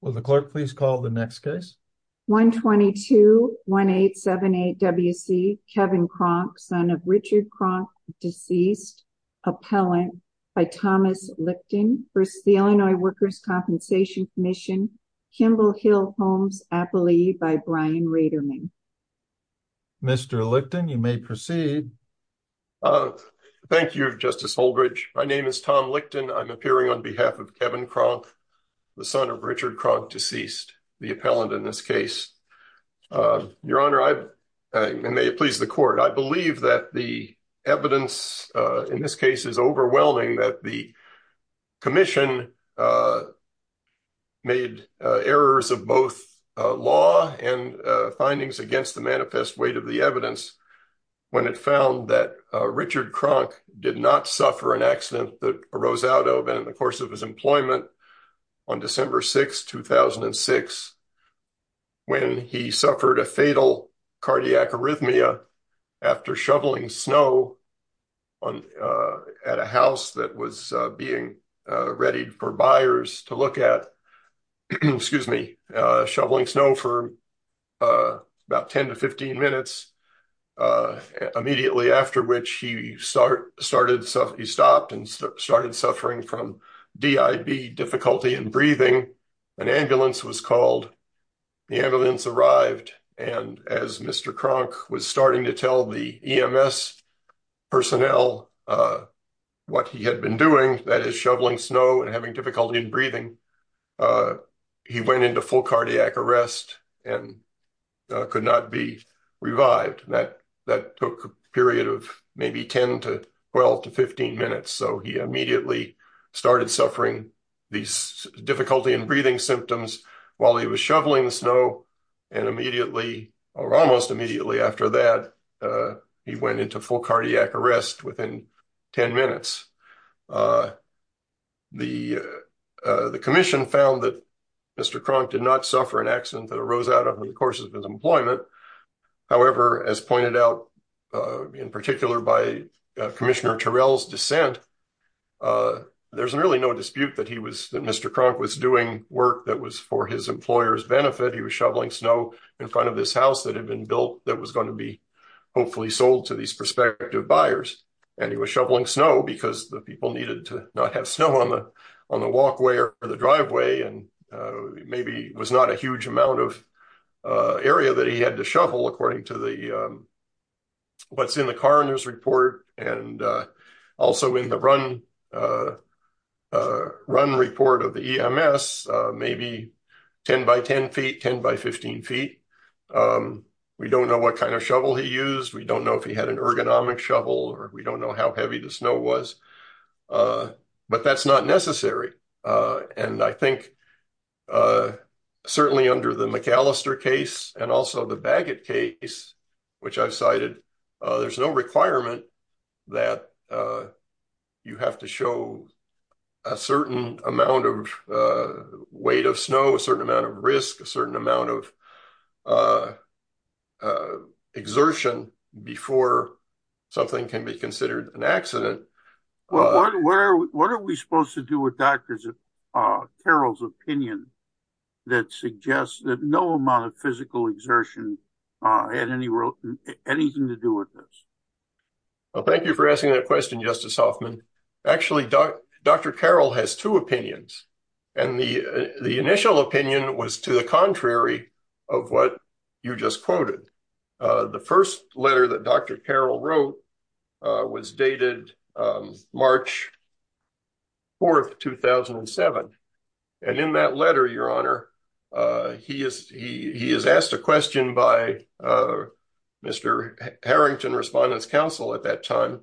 Will the clerk please call the next case? 122-1878-WC, Kevin Cronk, son of Richard Cronk, deceased, appellant, by Thomas Lichten, v. Illinois Workers' Compensation Comm'n, Kimball Hill Homes, appellee, by Brian Reiderman. Mr. Lichten, you may proceed. Thank you, Justice Holdridge. My name is Tom Lichten. I'm appearing on behalf of Kevin Cronk, the son of Richard Cronk, deceased, the appellant in this case. Your Honor, and may it please the Court, I believe that the evidence in this case is overwhelming that the Commission made errors of both law and findings against the manifest weight of the evidence when it found that Richard Cronk did not suffer an accident that on December 6, 2006, when he suffered a fatal cardiac arrhythmia after shoveling snow at a house that was being readied for buyers to look at, shoveling snow for about 10 to 15 minutes, immediately after which he stopped and started suffering from D.I.B., difficulty in breathing. An ambulance was called. The ambulance arrived, and as Mr. Cronk was starting to tell the E.M.S. personnel what he had been doing, that is, shoveling snow and having difficulty in breathing, he went into full cardiac arrest and could not be revived. That took a period of maybe 10 to 12 to 15 minutes, so he immediately started suffering these difficulty in breathing symptoms while he was shoveling the snow, and immediately, or almost immediately after that, he went into full cardiac arrest within 10 minutes. The Commission found that Mr. Cronk did not suffer an accident that arose out of the course of his employment. However, as pointed out in particular by Commissioner Terrell's dissent, there's really no dispute that Mr. Cronk was doing work that was for his employer's benefit. He was shoveling snow in front of this house that had been built that was going to be sold to these prospective buyers, and he was shoveling snow because the people needed to not have snow on the walkway or the driveway, and maybe it was not a huge amount of area that he had to shovel according to what's in the coroner's report and also in the run report of the E.M.S., maybe 10 by 10 feet, 10 by 15 feet. We don't know what kind of shovel he used, if he had an ergonomic shovel, or we don't know how heavy the snow was, but that's not necessary. I think certainly under the McAllister case and also the Bagot case, which I've cited, there's no requirement that you have to show a certain amount of weight of snow, a certain amount of risk, a certain amount of exertion before something can be considered an accident. What are we supposed to do with Dr. Carroll's opinion that suggests that no amount of physical exertion had anything to do with this? Well, thank you for asking that question, Justice Hoffman. Actually, Dr. Carroll has two opinions, and the initial opinion was to the contrary of what you just quoted. The first letter that Dr. Carroll wrote was dated March 4, 2007, and in that letter, Your Honor, he is asked a question by Mr. Harrington, Respondent's Counsel at that time.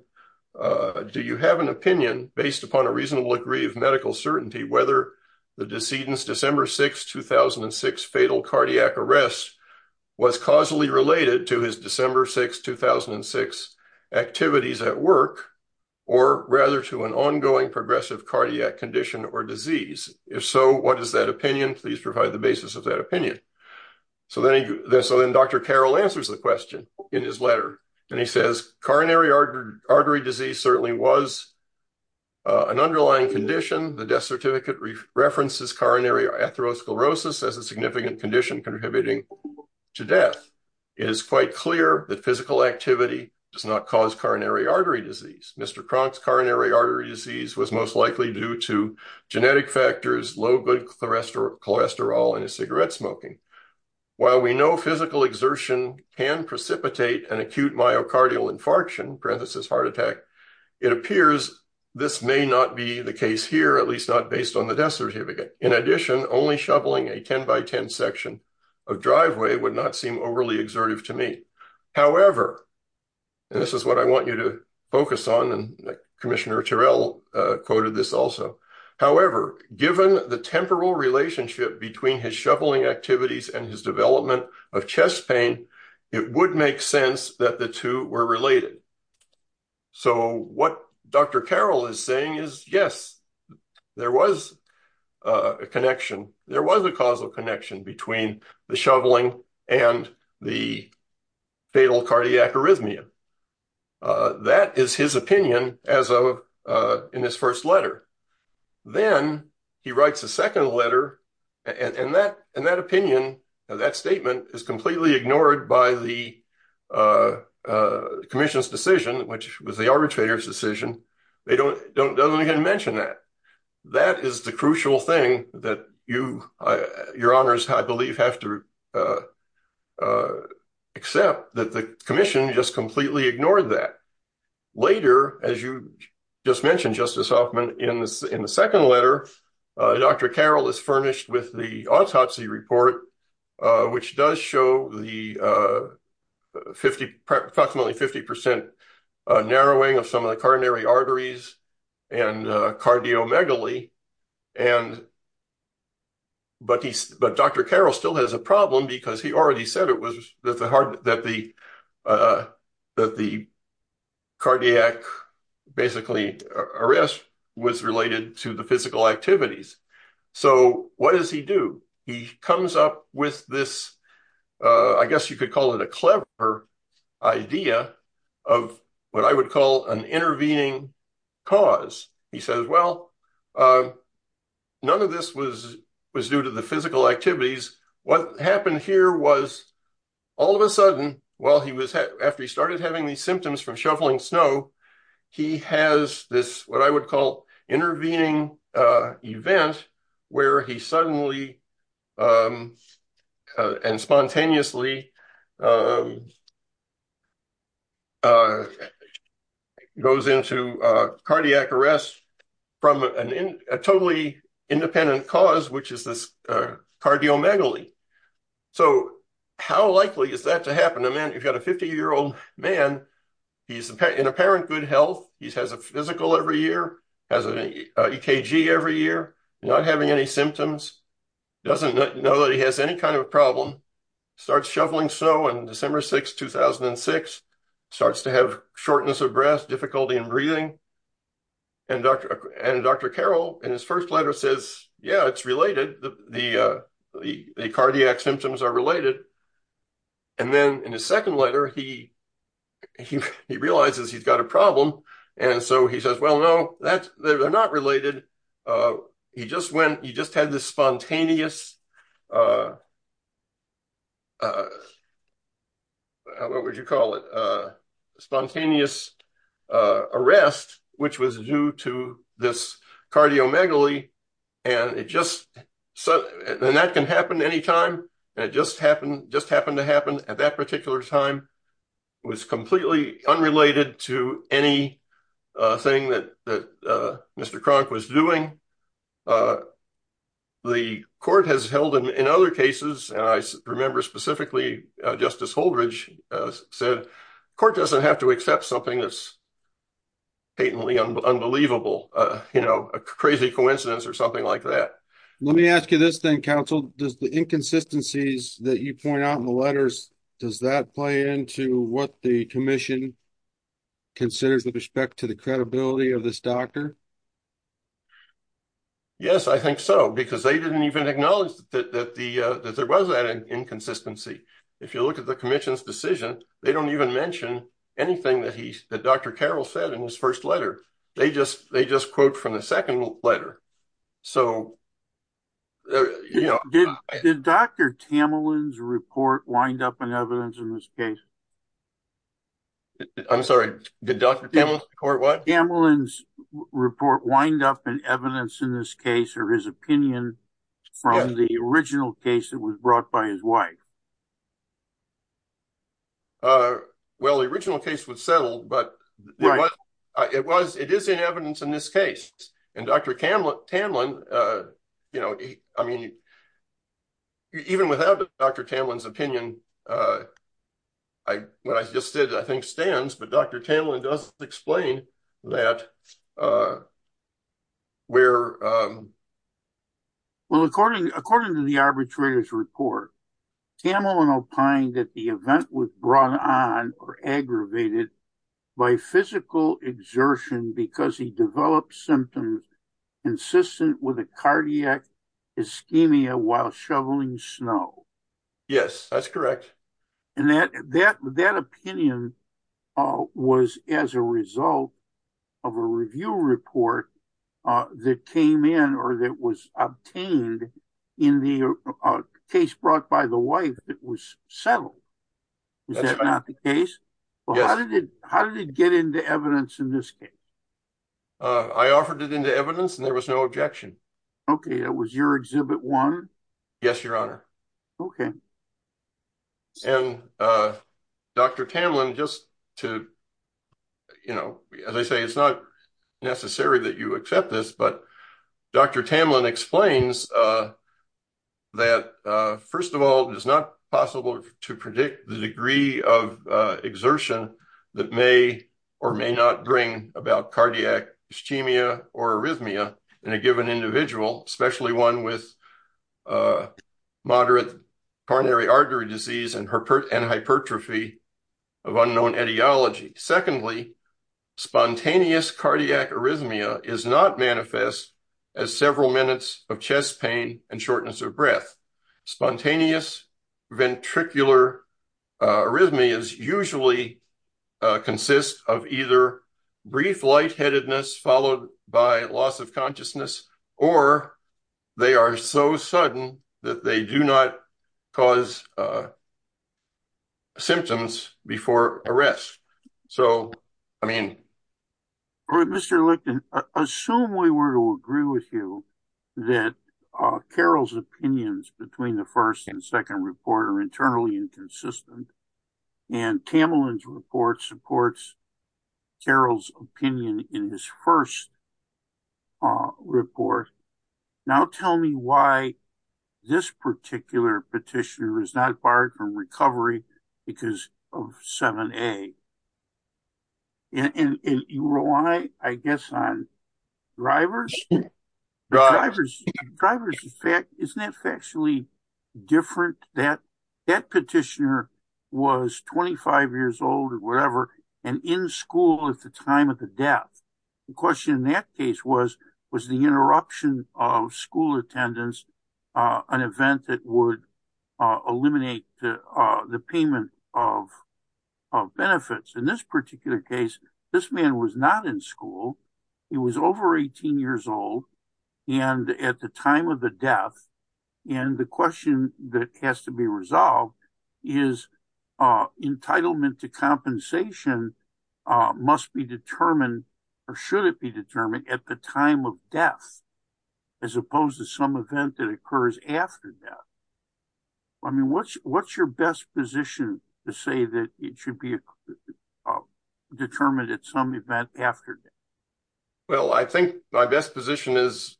Do you have an opinion, based upon a reasonable degree of medical certainty, whether the decedent's December 6, 2006 fatal cardiac arrest was causally related to his December 6, 2006 activities at work, or rather to an ongoing progressive cardiac condition or disease? If so, what is that opinion? Please provide the basis of that opinion. So then Dr. Carroll answers the letter, and he says, coronary artery disease certainly was an underlying condition. The death certificate references coronary atherosclerosis as a significant condition contributing to death. It is quite clear that physical activity does not cause coronary artery disease. Mr. Cronk's coronary artery disease was most likely due to genetic factors, low good cholesterol, and cigarette smoking. While we know physical exertion can precipitate an acute myocardial infarction, parenthesis heart attack, it appears this may not be the case here, at least not based on the death certificate. In addition, only shoveling a 10 by 10 section of driveway would not seem overly exertive to me. However, and this is what I want you to focus on, and Commissioner temporal relationship between his shoveling activities and his development of chest pain, it would make sense that the two were related. So what Dr. Carroll is saying is, yes, there was a connection. There was a causal connection between the shoveling and the letter. In that opinion, that statement is completely ignored by the commission's decision, which was the arbitrator's decision. They don't even mention that. That is the crucial thing that your honors, I believe, have to accept, that the commission just completely ignored that. Later, as you just mentioned, Justice Hoffman, in the second letter, Dr. Carroll is furnished with the autopsy report, which does show the approximately 50 percent narrowing of some of the coronary arteries and cardiomegaly. But Dr. Carroll still has a problem, because he already said that the cardiac basically arrest was related to the physical activities. So what does he do? He comes up with this, I guess you could call it a clever idea of what I would call an intervening cause. He says, well, none of this was due to the physical activities. What happened here was all of a sudden, after he started having these symptoms from shoveling snow, he has this, what I would call, intervening event where he suddenly and spontaneously goes into cardiac arrest from a totally independent cause, which is this cardiomegaly. So how likely is that to happen? A man, you've got a 50-year-old man, he's in apparent good health. He has a physical every year, has an EKG every year, not having any symptoms, doesn't know that he has any kind of problem, starts shoveling snow on December 6, 2006, starts to have shortness of breath, difficulty in breathing. And Dr. Carroll, in his first letter, says, yeah, it's related. The cardiac symptoms are related. And then in his second letter, he realizes he's got a problem. And so he says, well, no, they're not related. He just had this spontaneous, what would you call it? Spontaneous arrest, which was due to this cardiomegaly. And that can happen anytime. And it just happened to happen at that particular time. It was completely unrelated to anything that Mr. Cronk was doing. The court has held, in other cases, and I remember specifically Justice Holdridge said, court doesn't have to accept something that's patently unbelievable, a crazy coincidence or something like that. Let me ask you this then, counsel, does the inconsistencies that you point out in the letters, does that play into what the commission considers with respect to the credibility of this doctor? Yes, I think so, because they didn't even acknowledge that there was that inconsistency. If you look at the commission's decision, they don't even mention anything that Dr. Carroll said in his first letter. They just quote from the second letter. Did Dr. Tamalin's report wind up in evidence in this case? I'm sorry, did Dr. Tamalin's report what? Tamalin's report wind up in evidence in this case. Well, the original case was settled, but it is in evidence in this case. And Dr. Tamalin, I mean, even without Dr. Tamalin's opinion, what I just said, I think stands, but Dr. Tamalin does explain that. Well, according to the arbitrator's report, Tamalin opined that the event was brought on or aggravated by physical exertion because he developed symptoms consistent with a cardiac result of a review report that came in or that was obtained in the case brought by the wife that was settled. Is that not the case? How did it get into evidence in this case? I offered it into evidence and there was no objection. Okay, that was your exhibit one? Yes, your honor. Okay. And Dr. Tamalin just to, you know, as I say, it's not necessary that you accept this, but Dr. Tamalin explains that first of all, it is not possible to predict the degree of exertion that may or may not bring about cardiac ischemia or arrhythmia in a given individual, especially one with moderate coronary artery disease and hypertrophy of unknown etiology. Secondly, spontaneous cardiac arrhythmia is not manifest as several minutes of chest pain and shortness of breath. Spontaneous ventricular arrhythmias usually consist of either brief lightheadedness followed by loss of consciousness, or they are so sudden that they do not cause symptoms before arrest. So, I mean. All right, Mr. Lichten, assume we were to agree with you that Carol's opinions between the first and second report are internally inconsistent and Tamalin's report supports Carol's opinion in this first report. Now tell me why this particular petitioner is not barred from recovery because of 7A. And you rely, I guess, on drivers? Drivers, isn't that factually different that that petitioner was 25 years old or whatever and in school at the time of the death. The question in that case was, was the interruption of school attendance an event that would eliminate the payment of benefits? In this particular case, this man was not in school. He was over 18 years old and at the time of the death. And the question that has to be resolved is entitlement to compensation must be determined or should it be determined at the time of death as opposed to some event that occurs after death. I mean, what's your best position to say that it some event after death? Well, I think my best position is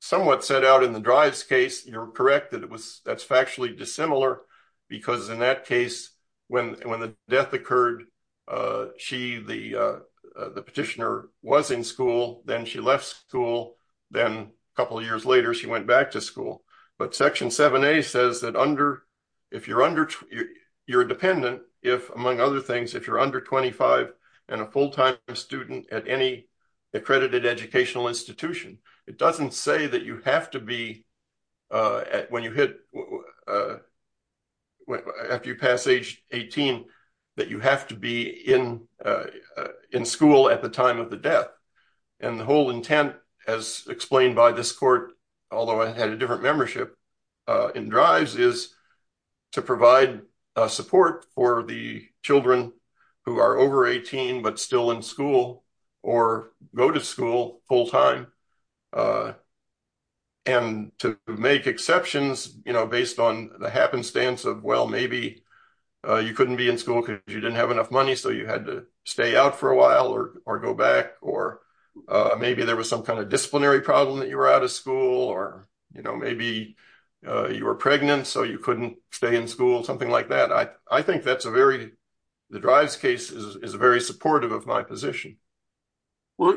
somewhat set out in the drives case. You're correct that it was, that's factually dissimilar because in that case, when the death occurred, she, the petitioner was in school, then she left school. Then a couple of years later, she went back to school. But section 7A says that under, if you're under, you're dependent if among other things, if you're under 25 and a full-time student at any accredited educational institution, it doesn't say that you have to be, when you hit, after you pass age 18, that you have to be in, in school at the time of the death. And the whole intent as explained by this court, although I had a different membership, in drives is to provide support for the children who are over 18 but still in school or go to school full-time. And to make exceptions, you know, based on the happenstance of, well, maybe you couldn't be in school because you didn't have enough money. So you had to stay out for a while or, or go back, or maybe there was some kind of disciplinary problem that you were out of school or, you know, maybe you were pregnant so you couldn't stay in school, something like that. I, I think that's a very, the drives case is very supportive of my position. Well,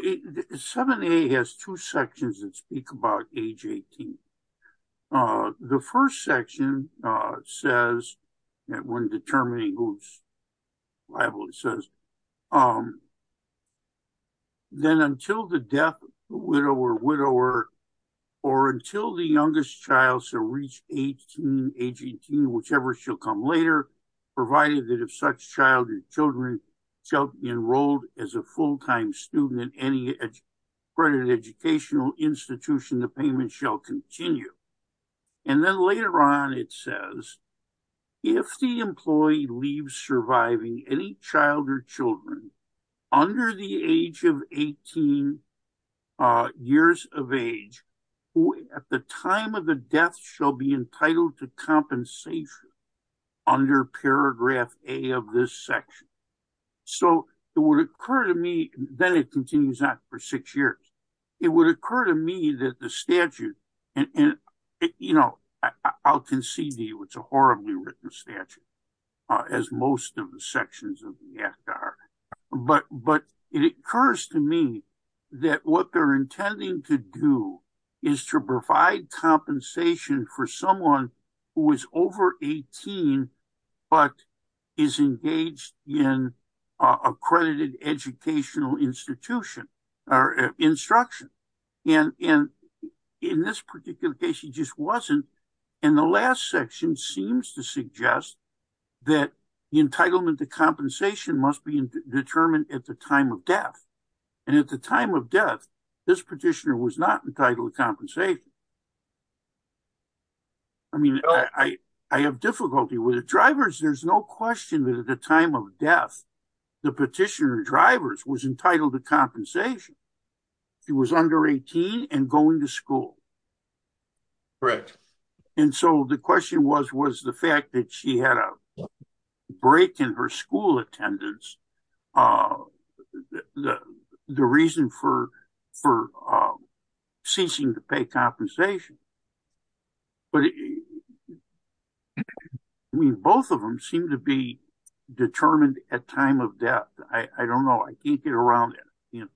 7A has two sections that speak about age 18. The first section says that when determining who's liable, it says, then until the death, widower, widower, or until the youngest child shall reach 18, age 18, whichever shall come later, provided that if such child or children shall be enrolled as a full-time student in any accredited educational institution, the payment shall continue. And then later on, it says, if the employee leaves surviving any child or children under the age of 18 years of age, at the time of the death shall be entitled to compensation under paragraph A of this section. So it would occur to me, then it continues on for six years, it would occur to me that the statute and, you know, I'll concede to you, it's a horribly written statute as most of the sections of the act are, but, but it occurs to me that what they're intending to do is to provide compensation for someone who is over 18, but is engaged in accredited educational institution or instruction. And in this particular case, it just wasn't. And the last section seems to suggest that the entitlement to compensation must be determined at the time of death. And at the time of death, this petitioner was not entitled to compensation. I mean, I have difficulty with it. Drivers, there's no question that at the time of death, the petitioner drivers was entitled to compensation. She was under 18 and going to school. Right. And so the question was, was the fact that she had a break in her school attendance, the reason for, for ceasing to pay compensation. But I mean, both of them seem to be determined at time of death. I don't know. I can't get around it.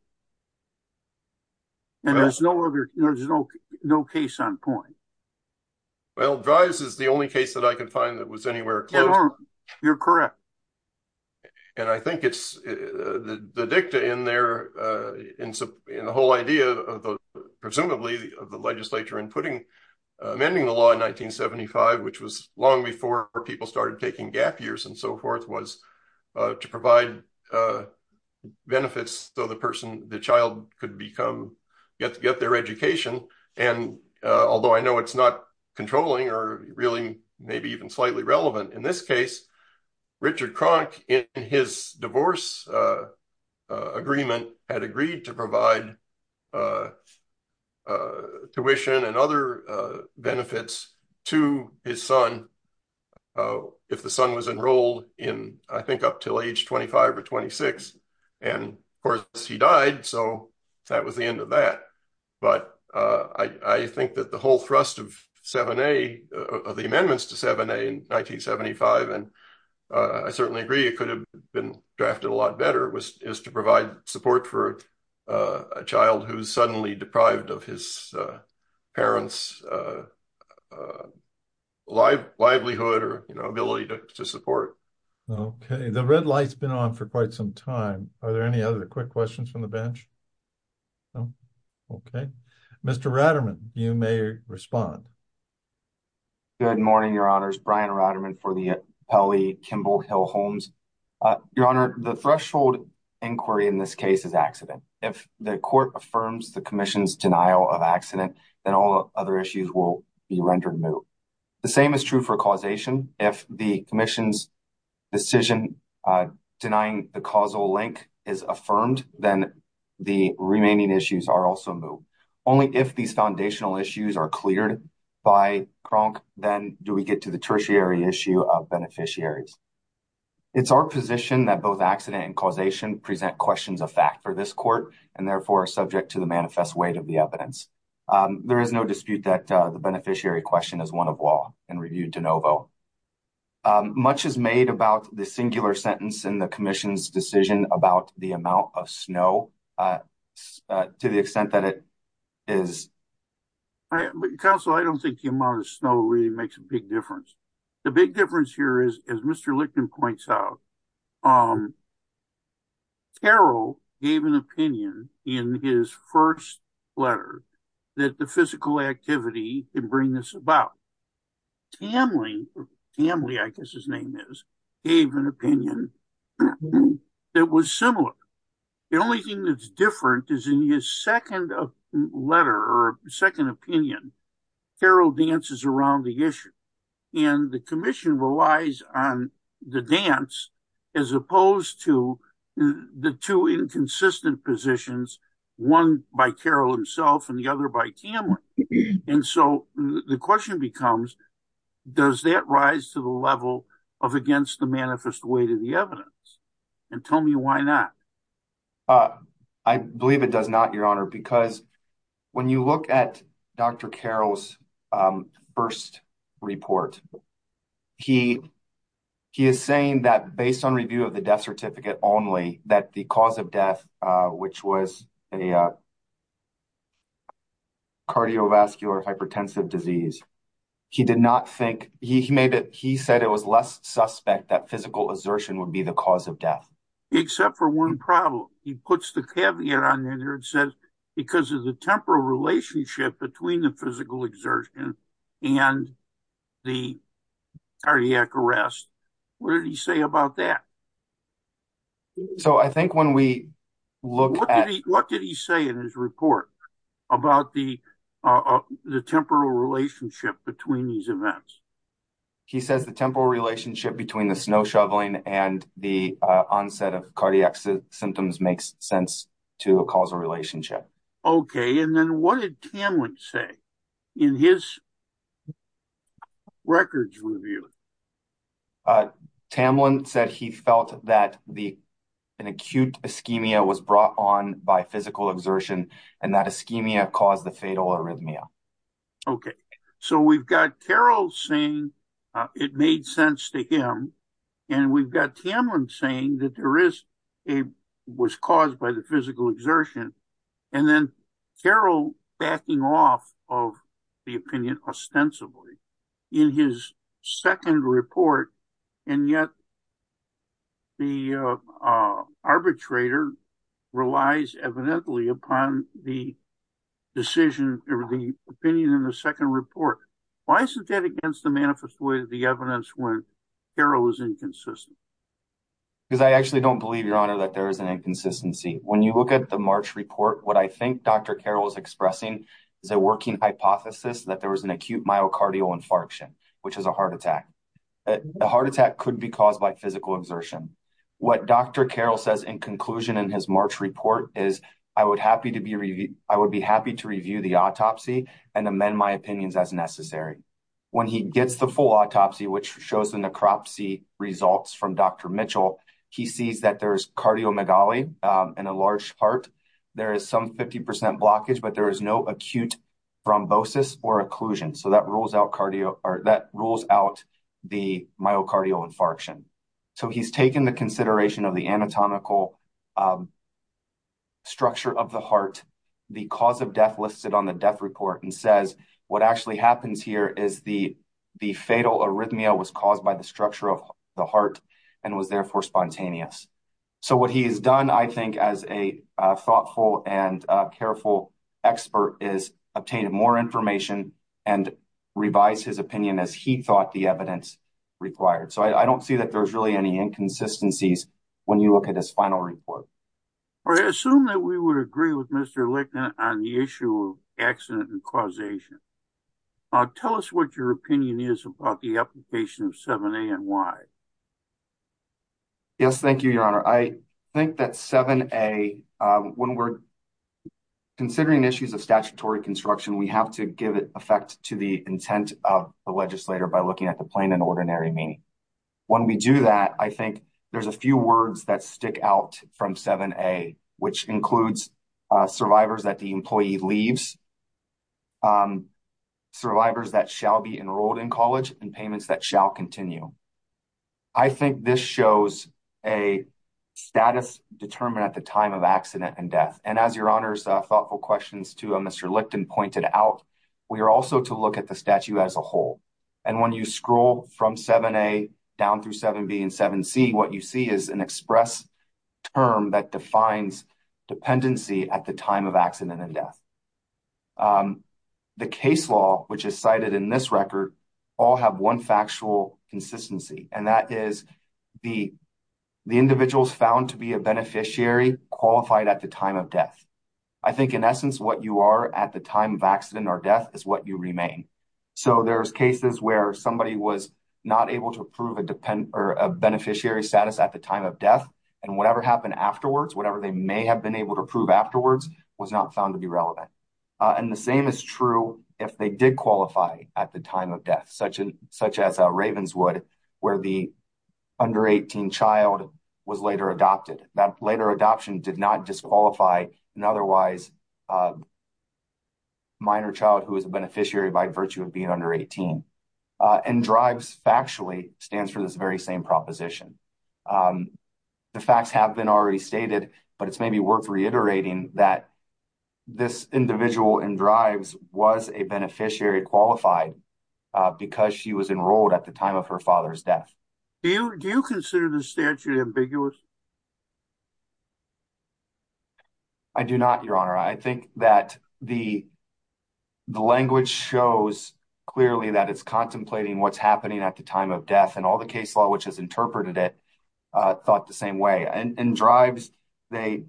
And there's no other, there's no, no case on point. Well, drives is the only case that I can find that was anywhere. You're correct. And I think it's the dicta in there, in the whole idea of the, of the legislature and putting amending the law in 1975, which was long before people started taking gap years and so forth was to provide benefits. So the person, the child could become, get to get their education. And although I know it's not controlling or really maybe even slightly relevant in this case, Richard Cronk in his divorce agreement had agreed to provide tuition and other benefits to his son. If the son was enrolled in, I think, up till age 25 or 26, and of course he died. So that was the end of that. But I think that the whole thrust of 7a, of the amendments to 7a in 1975, and I certainly agree it could have been drafted a lot better is to provide support for a child who's suddenly deprived of his parents' livelihood or ability to support. Okay. The red light's been on for quite some time. Are there any other quick questions from the bench? No. Okay. Mr. Ratterman, you may respond. Good morning, your honors. Brian Ratterman for the Kelly Kimball Hill Homes. Your honor, the threshold inquiry in this case is accident. If the court affirms the commission's denial of accident, then all other issues will be rendered moot. The same is true for causation. If the commission's decision denying the causal link is affirmed, then the remaining issues are also moot. Only if these foundational issues are cleared by Cronk, then do we get to the tertiary issue of beneficiaries. It's our position that both accident and causation present questions of fact for this court and therefore are subject to the manifest weight of the evidence. There is no dispute that the beneficiary question is one of law and reviewed de novo. Much is made about the singular sentence in the commission's decision about the amount of snow to the extent that it is. Counsel, I don't think the amount of snow really makes a big difference. The big difference here is, as Mr. Lichten points out, Carroll gave an opinion in his first letter that the physical activity can bring this about. Tamley, I guess his name is, gave an opinion that was similar. The only thing that's different is in his second letter or second opinion, Carroll dances around the issue. And the commission relies on the dance as opposed to the two inconsistent positions, one by Carroll himself and the other by Tamley. And so the question becomes, does that rise to the level of against the manifest weight of the evidence? And tell me why not? I believe it does not, Your Honor, because when you look at Dr. Carroll's first report, he is saying that based on review of the death certificate only, that the cause of death, which was a cardiovascular hypertensive disease, he did not think, he said it was less suspect that physical exertion would be the cause of death. Except for one problem. He puts the caveat on there and says because of the temporal relationship between the physical exertion and the cardiac arrest. What did he say about that? What did he say in his report about the temporal relationship between these events? He says the temporal relationship between the snow shoveling and the onset of cardiac symptoms makes sense to a causal relationship. Okay. And then what did Tamlin say in his records review? Tamlin said he felt that an acute ischemia was brought on by physical exertion and that ischemia caused the fatal arrhythmia. Okay. So we've got Carroll saying it made sense to him. And we've got Tamlin saying that there is, it was caused by the physical exertion. And then Carroll backing off of the opinion ostensibly in his second report. And yet the arbitrator relies evidently upon the decision or the opinion in the second report. Why isn't that against the manifest way of the evidence when Carroll was inconsistent? Because I actually don't believe, your honor, that there is an inconsistency. When you look at the March report, what I think Dr. Carroll is expressing is a working hypothesis that there was an acute myocardial infarction, which is a heart attack. The heart attack could be caused by physical exertion. What Dr. Carroll says in conclusion in his March report is I would be happy to review the autopsy and amend my opinions as necessary. When he gets the full autopsy, which shows the necropsy results from Dr. Mitchell, he sees that there's cardiomegaly in a large part. There is some 50% blockage, but there is no acute thrombosis or occlusion. So that rules out the myocardial infarction. So he's taken the consideration of the anatomical structure of the heart, the cause of death listed on the death report and says, what actually happens here is the fatal arrhythmia was caused by the structure of the heart and was, therefore, spontaneous. So what he has done, I think, as a thoughtful and careful expert is obtain more information and revise his opinion as he thought the evidence required. So I don't see that there's really any inconsistencies when you look at his final report. I assume that we would agree with Mr. Licknett on the issue of accident and causation. Tell us what your opinion is about the application of 7A and why. Yes, thank you, Your Honor. I think that 7A, when we're considering issues of statutory construction, we have to give it effect to the intent of the legislator by looking at the plain and ordinary meaning. When we do that, I think there's a few words that stick out from 7A, which includes survivors that the employee leaves, survivors that shall be enrolled in college, and payments that shall continue. I think this shows a status determined at the time of accident and death. And as Your Honor's thoughtful questions to Mr. Lickton pointed out, we are also to look at the statute as a whole. And when you scroll from 7A down through 7B and 7C, what you see is an express term that defines dependency at the time of accident and death. The case law, which is cited in this record, all have one factual consistency, and that is the individuals found to be a beneficiary qualified at the time of death. I think in essence what you are at the time of accident or death is what you remain. So there's cases where somebody was not able to prove a beneficiary status at the time of death, and whatever happened afterwards, whatever they may have been able to prove afterwards, was not found to be relevant. And the same is true if they did qualify at the time of death, such as Ravenswood, where the under-18 child was later adopted. That later adoption did not disqualify an otherwise minor child who was a beneficiary by virtue of being under 18. And DRIVES factually stands for this very same proposition. The facts have been already stated, but it's maybe worth reiterating that this individual in DRIVES was a beneficiary qualified because she was enrolled at the time of her father's death. Do you consider the statute ambiguous? I do not, Your Honor. I think that the language shows clearly that it's contemplating what's happening at the time of death, and all the case law which has interpreted it thought the same way. In DRIVES, they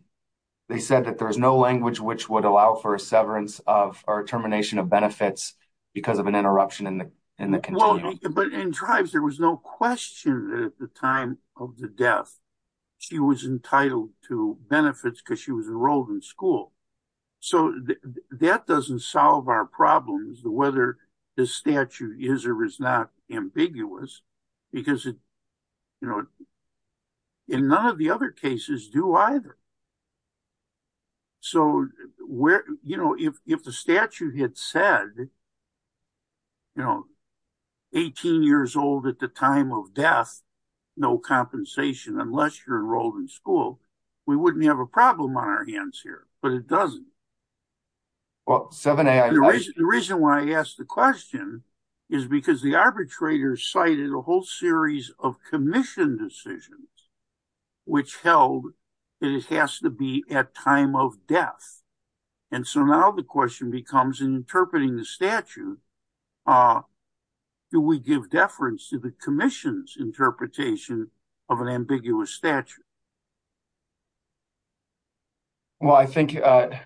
said that there's no language which would allow for a severance or termination of benefits because of an interruption in the continuum. But in DRIVES, there was no question that at the time of the death, she was entitled to benefits because she was enrolled in school. So that doesn't solve our problems, whether the statute is or is not ambiguous, because in none of the other cases do either. So if the statute had said, you know, 18 years old at the time of death, no compensation unless you're enrolled in school, we wouldn't have a problem on our hands here, but it doesn't. Well, 7A, I— The reason why I asked the question is because the arbitrator cited a whole series of commission decisions which held that it has to be at time of death. And so now the question becomes, in interpreting the statute, do we give deference to the commission's interpretation of an ambiguous statute? Well, I think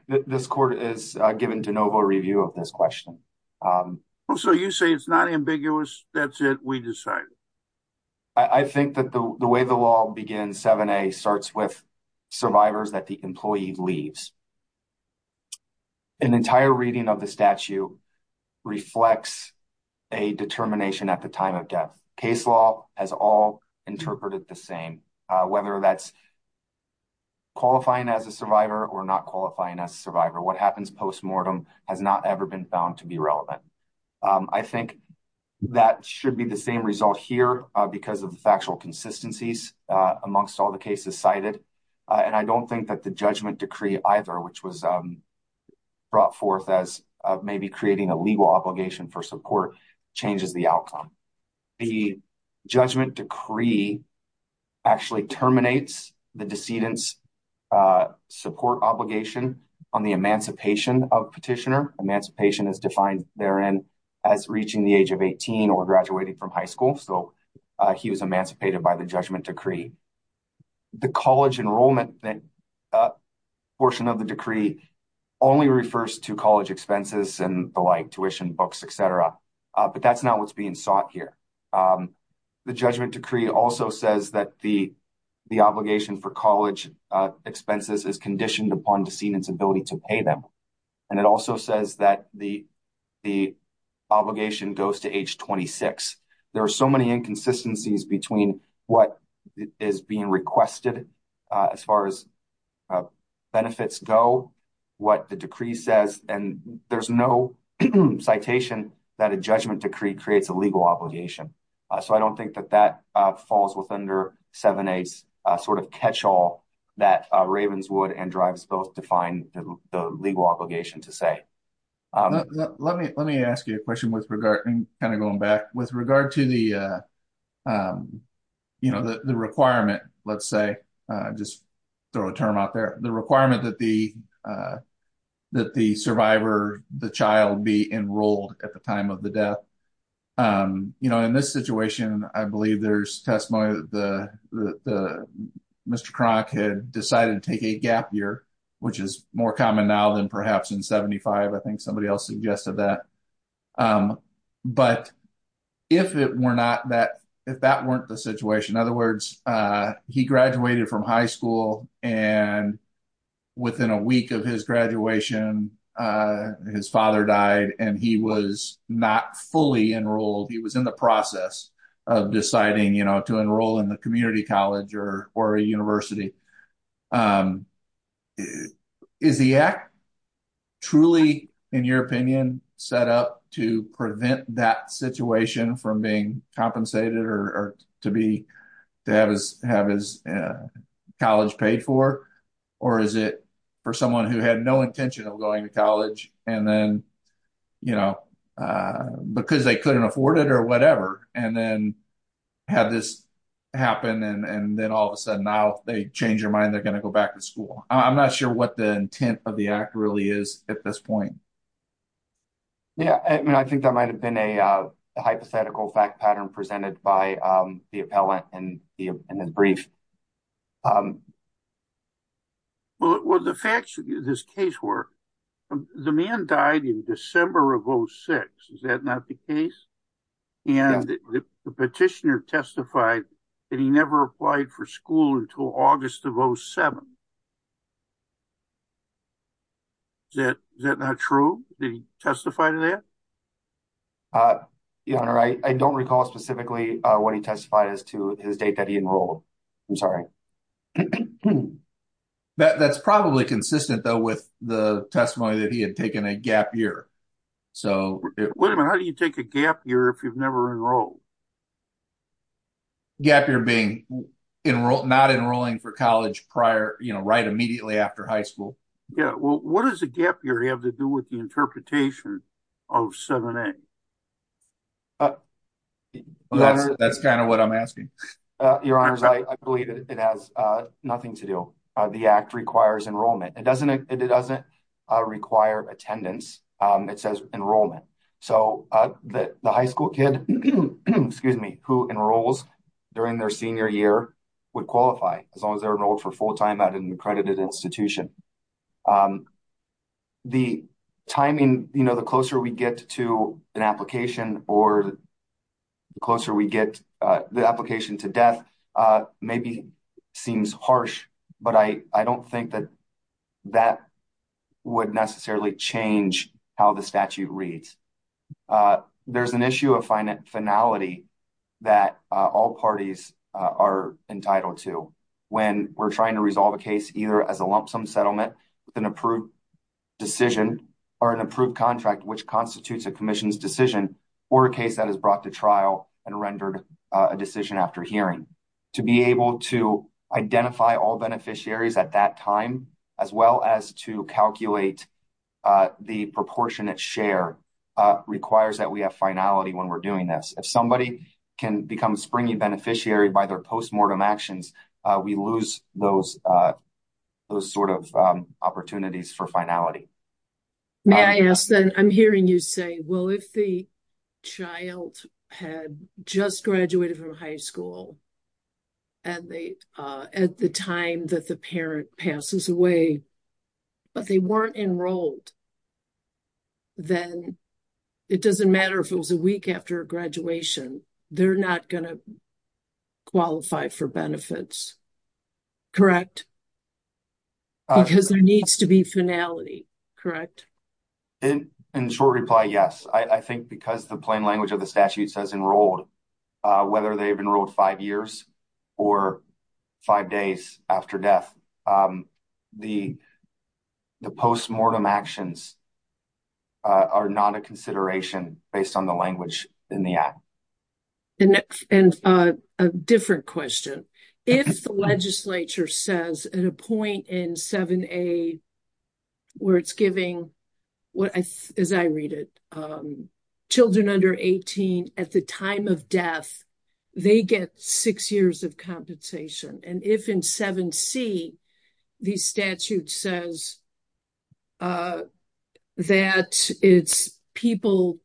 this court is given de novo review of this question. So you say it's not ambiguous, that's it, we decide. I think that the way the law begins, 7A, starts with survivors that the employee leaves. An entire reading of the statute reflects a determination at the time of death. Case law has all interpreted the same, whether that's qualifying as a survivor or not qualifying as a survivor. What happens post-mortem has not ever been found to be relevant. I think that should be the same result here because of the factual consistencies amongst all the cases cited. And I don't think that the judgment decree either, which was brought forth as maybe creating a legal obligation for support, changes the outcome. The judgment decree actually terminates the decedent's support obligation on the emancipation of petitioner. Emancipation is defined therein as reaching the age of 18 or graduating from the college enrollment portion of the decree only refers to college expenses and the like, tuition, books, et cetera. But that's not what's being sought here. The judgment decree also says that the obligation for college expenses is conditioned upon decedent's ability to pay them. And it also says that the obligation goes to age 26. There are so many inconsistencies between what is being requested as far as benefits go, what the decree says, and there's no citation that a judgment decree creates a legal obligation. So I don't think that that falls within 7-8's sort of catch-all that Ravenswood and Drives both define the legal obligation to say. Let me ask you a question with regard, kind of going back, with regard to the requirement, let's say, just throw a term out there, the requirement that the survivor, the child be enrolled at the time of the death. In this situation, I believe there's testimony that Mr. Cronk had decided to take a gap year, which is more common now than perhaps in 75. I think somebody else suggested that. But if it were not that, if that weren't the situation, in other words, he graduated from high school and within a week of his graduation, his father died and he was not fully enrolled. He was in the process of deciding to enroll in the community college or university. Is the act truly, in your opinion, set up to prevent that situation from being compensated or to have his college paid for? Or is it for someone who had no intention of going to college and then, you know, because they couldn't afford it or whatever, and then have this happen and then all of a sudden now they change their mind, they're going to go back to school. I'm not sure what the intent of the act really is at this point. Yeah, I mean, I think that might have been a hypothetical fact pattern presented by the appellant in the brief. Well, the facts of this case were the man died in December of 06. Is that not the case? And the petitioner testified that he never applied for school until August of 07. Is that not true? Did he testify to that? Your Honor, I don't recall specifically what he testified as to his date that he enrolled. I'm sorry. That's probably consistent, though, with the testimony that he had taken a gap year. So, wait a minute, how do you take a gap year if you've never enrolled? Gap year being not enrolling for college prior, you know, right immediately after high school. Yeah, well, what does a gap year have to do with the interpretation of 7A? Well, that's kind of what I'm asking. Your Honor, I believe it has nothing to do. The act requires enrollment. It doesn't require attendance. It says enrollment. So, the high school kid, excuse me, who enrolls during their senior year would qualify as long as they're enrolled for full time at an accredited institution. The timing, you know, the closer we get to an application or the closer we get the application to death maybe seems harsh, but I don't think that that would necessarily change how the statute reads. There's an issue of finality that all parties are entitled to when we're trying to an approved decision or an approved contract which constitutes a commission's decision or a case that is brought to trial and rendered a decision after hearing. To be able to identify all beneficiaries at that time, as well as to calculate the proportionate share requires that we have finality when we're doing this. If somebody can become a springy beneficiary by their postmortem actions, we lose those sort of opportunities for finality. May I ask then, I'm hearing you say, well, if the child had just graduated from high school at the time that the parent passes away, but they weren't enrolled, then it doesn't matter if it was a week after graduation, they're not going to qualify for benefits, correct? Because there needs to be finality, correct? In short reply, yes. I think because the plain language of the statute says enrolled, whether they've enrolled five years or five days after death, the postmortem actions are not a consideration based on the language in the act. And a different question. If the legislature says at a point in 7A, where it's giving, as I read it, children under 18 at the time of death, they get six years of compensation. And if in 7C, the statute says that it's people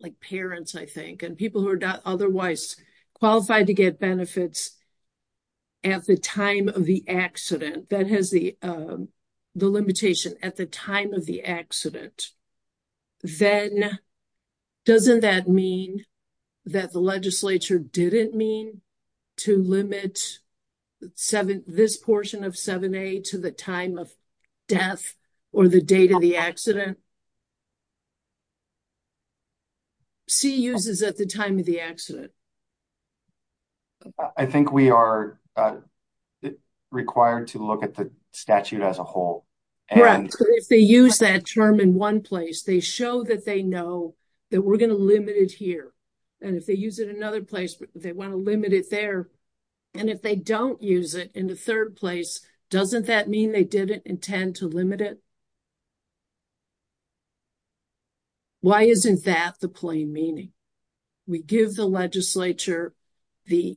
like parents, I think, and people who are otherwise qualified to get benefits at the time of the accident, that has the limitation at the 7, this portion of 7A to the time of death or the date of the accident. C uses at the time of the accident. I think we are required to look at the statute as a whole. If they use that term in one place, they show that they know that we're going to limit it here. And if they use it in another place, they want to limit it there. And if they don't use it in the third place, doesn't that mean they didn't intend to limit it? Why isn't that the plain meaning? We give the legislature the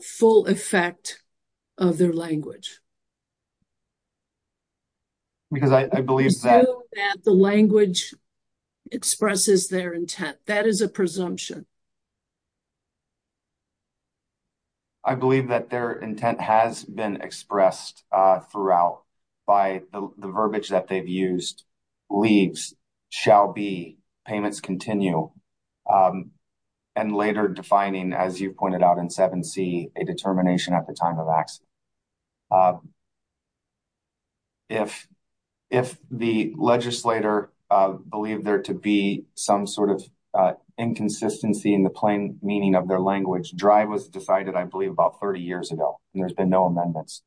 full effect of their language. Because I believe that the language expresses their intent. That is a presumption. I believe that their intent has been expressed throughout by the verbiage that they've used, leaves, shall be, payments continue, and later defining, as you pointed out in 7C, a determination at the time of accident. If the legislator believed there to be some sort of inconsistency in the plain meaning of their language, drive was decided, I believe, about 30 years ago. And there's been no amendments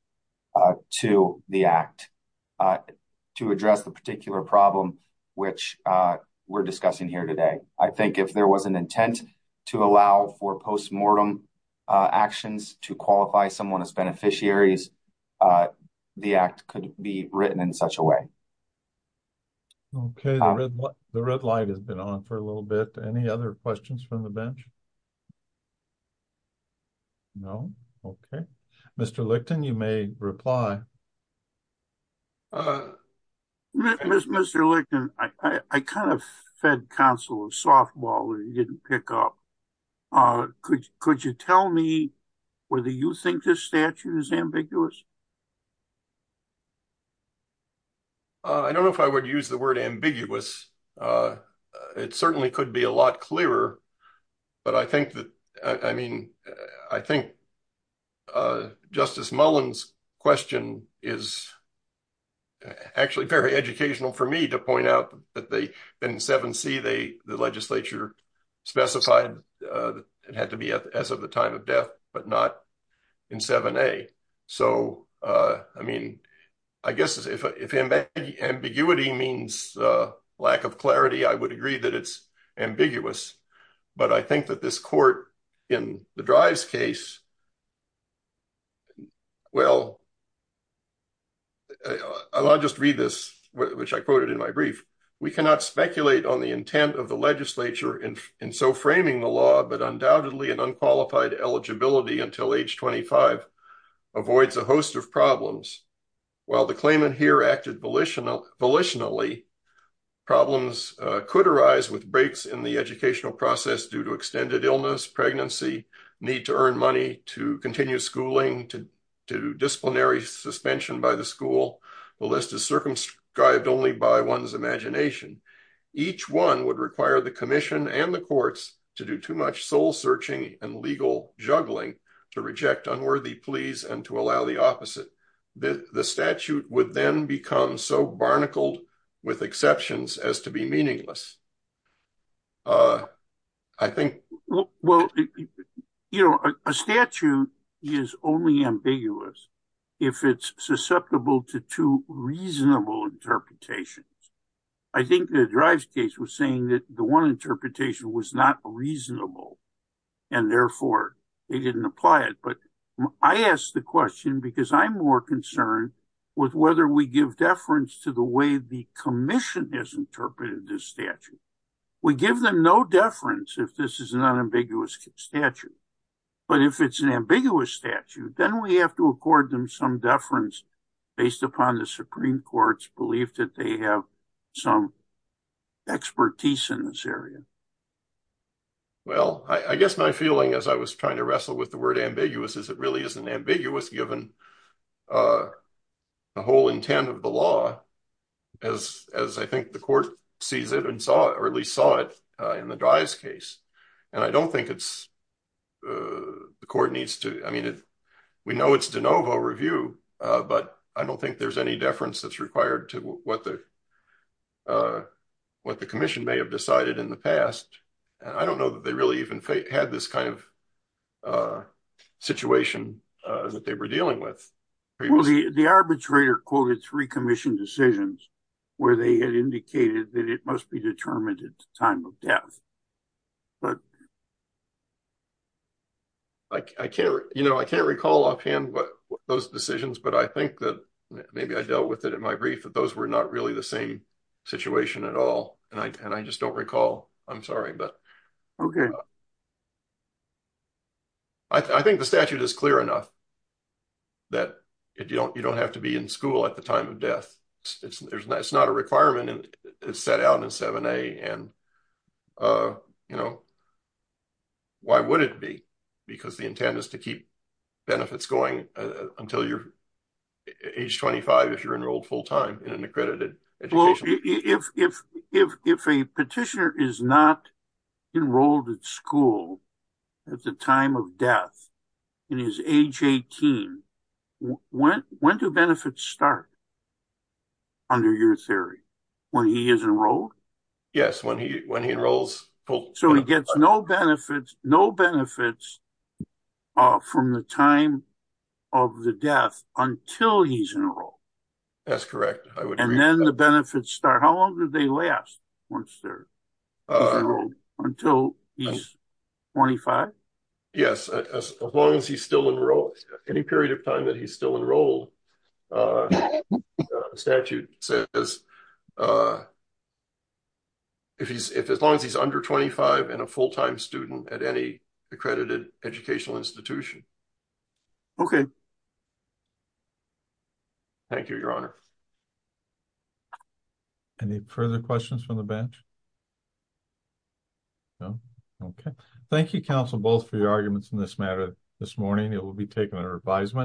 to the act to address the particular problem, which we're discussing here today. I think if there was an intent to allow for postmortem actions to qualify someone as beneficiaries, the act could be written in a way. Okay, the red light has been on for a little bit. Any other questions from the bench? No? Okay. Mr. Licton, you may reply. Mr. Licton, I kind of fed counsel of softball that you didn't pick up. Could you tell me whether you think this statute is ambiguous? I don't know if I would use the word ambiguous. It certainly could be a lot clearer, but I think that, I mean, I think Justice Mullen's question is actually very educational for me to point out that they, in 7C, the legislature specified it had to be as of the time of death, but not in 7A. So, I mean, I guess if ambiguity means lack of clarity, I would agree that it's ambiguous. But I think that this court, in the drives case, well, I'll just read this, which I quoted in my brief. We cannot speculate on the intent of the until age 25 avoids a host of problems. While the claimant here acted volitionally, problems could arise with breaks in the educational process due to extended illness, pregnancy, need to earn money to continue schooling, to disciplinary suspension by the school. The list is circumscribed only by one's imagination. Each one would require the commission and the courts to do too much soul searching and legal juggling to reject unworthy pleas and to allow the opposite. The statute would then become so barnacled with exceptions as to be meaningless. I think, well, you know, a statute is only ambiguous if it's susceptible to two was not reasonable. And therefore, they didn't apply it. But I asked the question because I'm more concerned with whether we give deference to the way the commission has interpreted this statute. We give them no deference if this is an unambiguous statute. But if it's an ambiguous statute, then we have to accord them some deference based upon the Supreme Court's belief that they have some expertise in this area. Well, I guess my feeling as I was trying to wrestle with the word ambiguous is it really isn't ambiguous given the whole intent of the law as I think the court sees it and saw it, or at least saw it in the Dries case. And I don't think the court needs to, I mean, we know it's de novo review, but I don't think there's any deference that's required to what the commission may have decided in the past. And I don't know that they really even had this kind of situation that they were dealing with. Well, the arbitrator quoted three commission decisions where they had indicated that it must be determined at the time of death. But I can't recall offhand what those decisions, but I think that maybe I dealt with it in my brief that those were not really the same situation at all. And I just don't recall, I'm sorry, but I think the statute is clear enough that you don't have to be in school at the time of death. It's not a requirement and it's set out in 7A and why would it be? Because the intent is to keep benefits going until you're age 25, if you're enrolled full time in an accredited education. Well, if a petitioner is not enrolled at school at the time of death and he's age 18, when do benefits start under your theory? When he is from the time of the death until he's enrolled. That's correct. And then the benefits start, how long do they last once they're enrolled until he's 25? Yes, as long as he's still enrolled, any period of time that he's still enrolled, the statute says, uh, if he's, if as long as he's under 25 and a full-time student at any accredited educational institution. Okay. Thank you, your honor. Any further questions from the bench? No. Okay. Thank you, counsel, both for your arguments in this matter. This morning, it will be taken under advisement.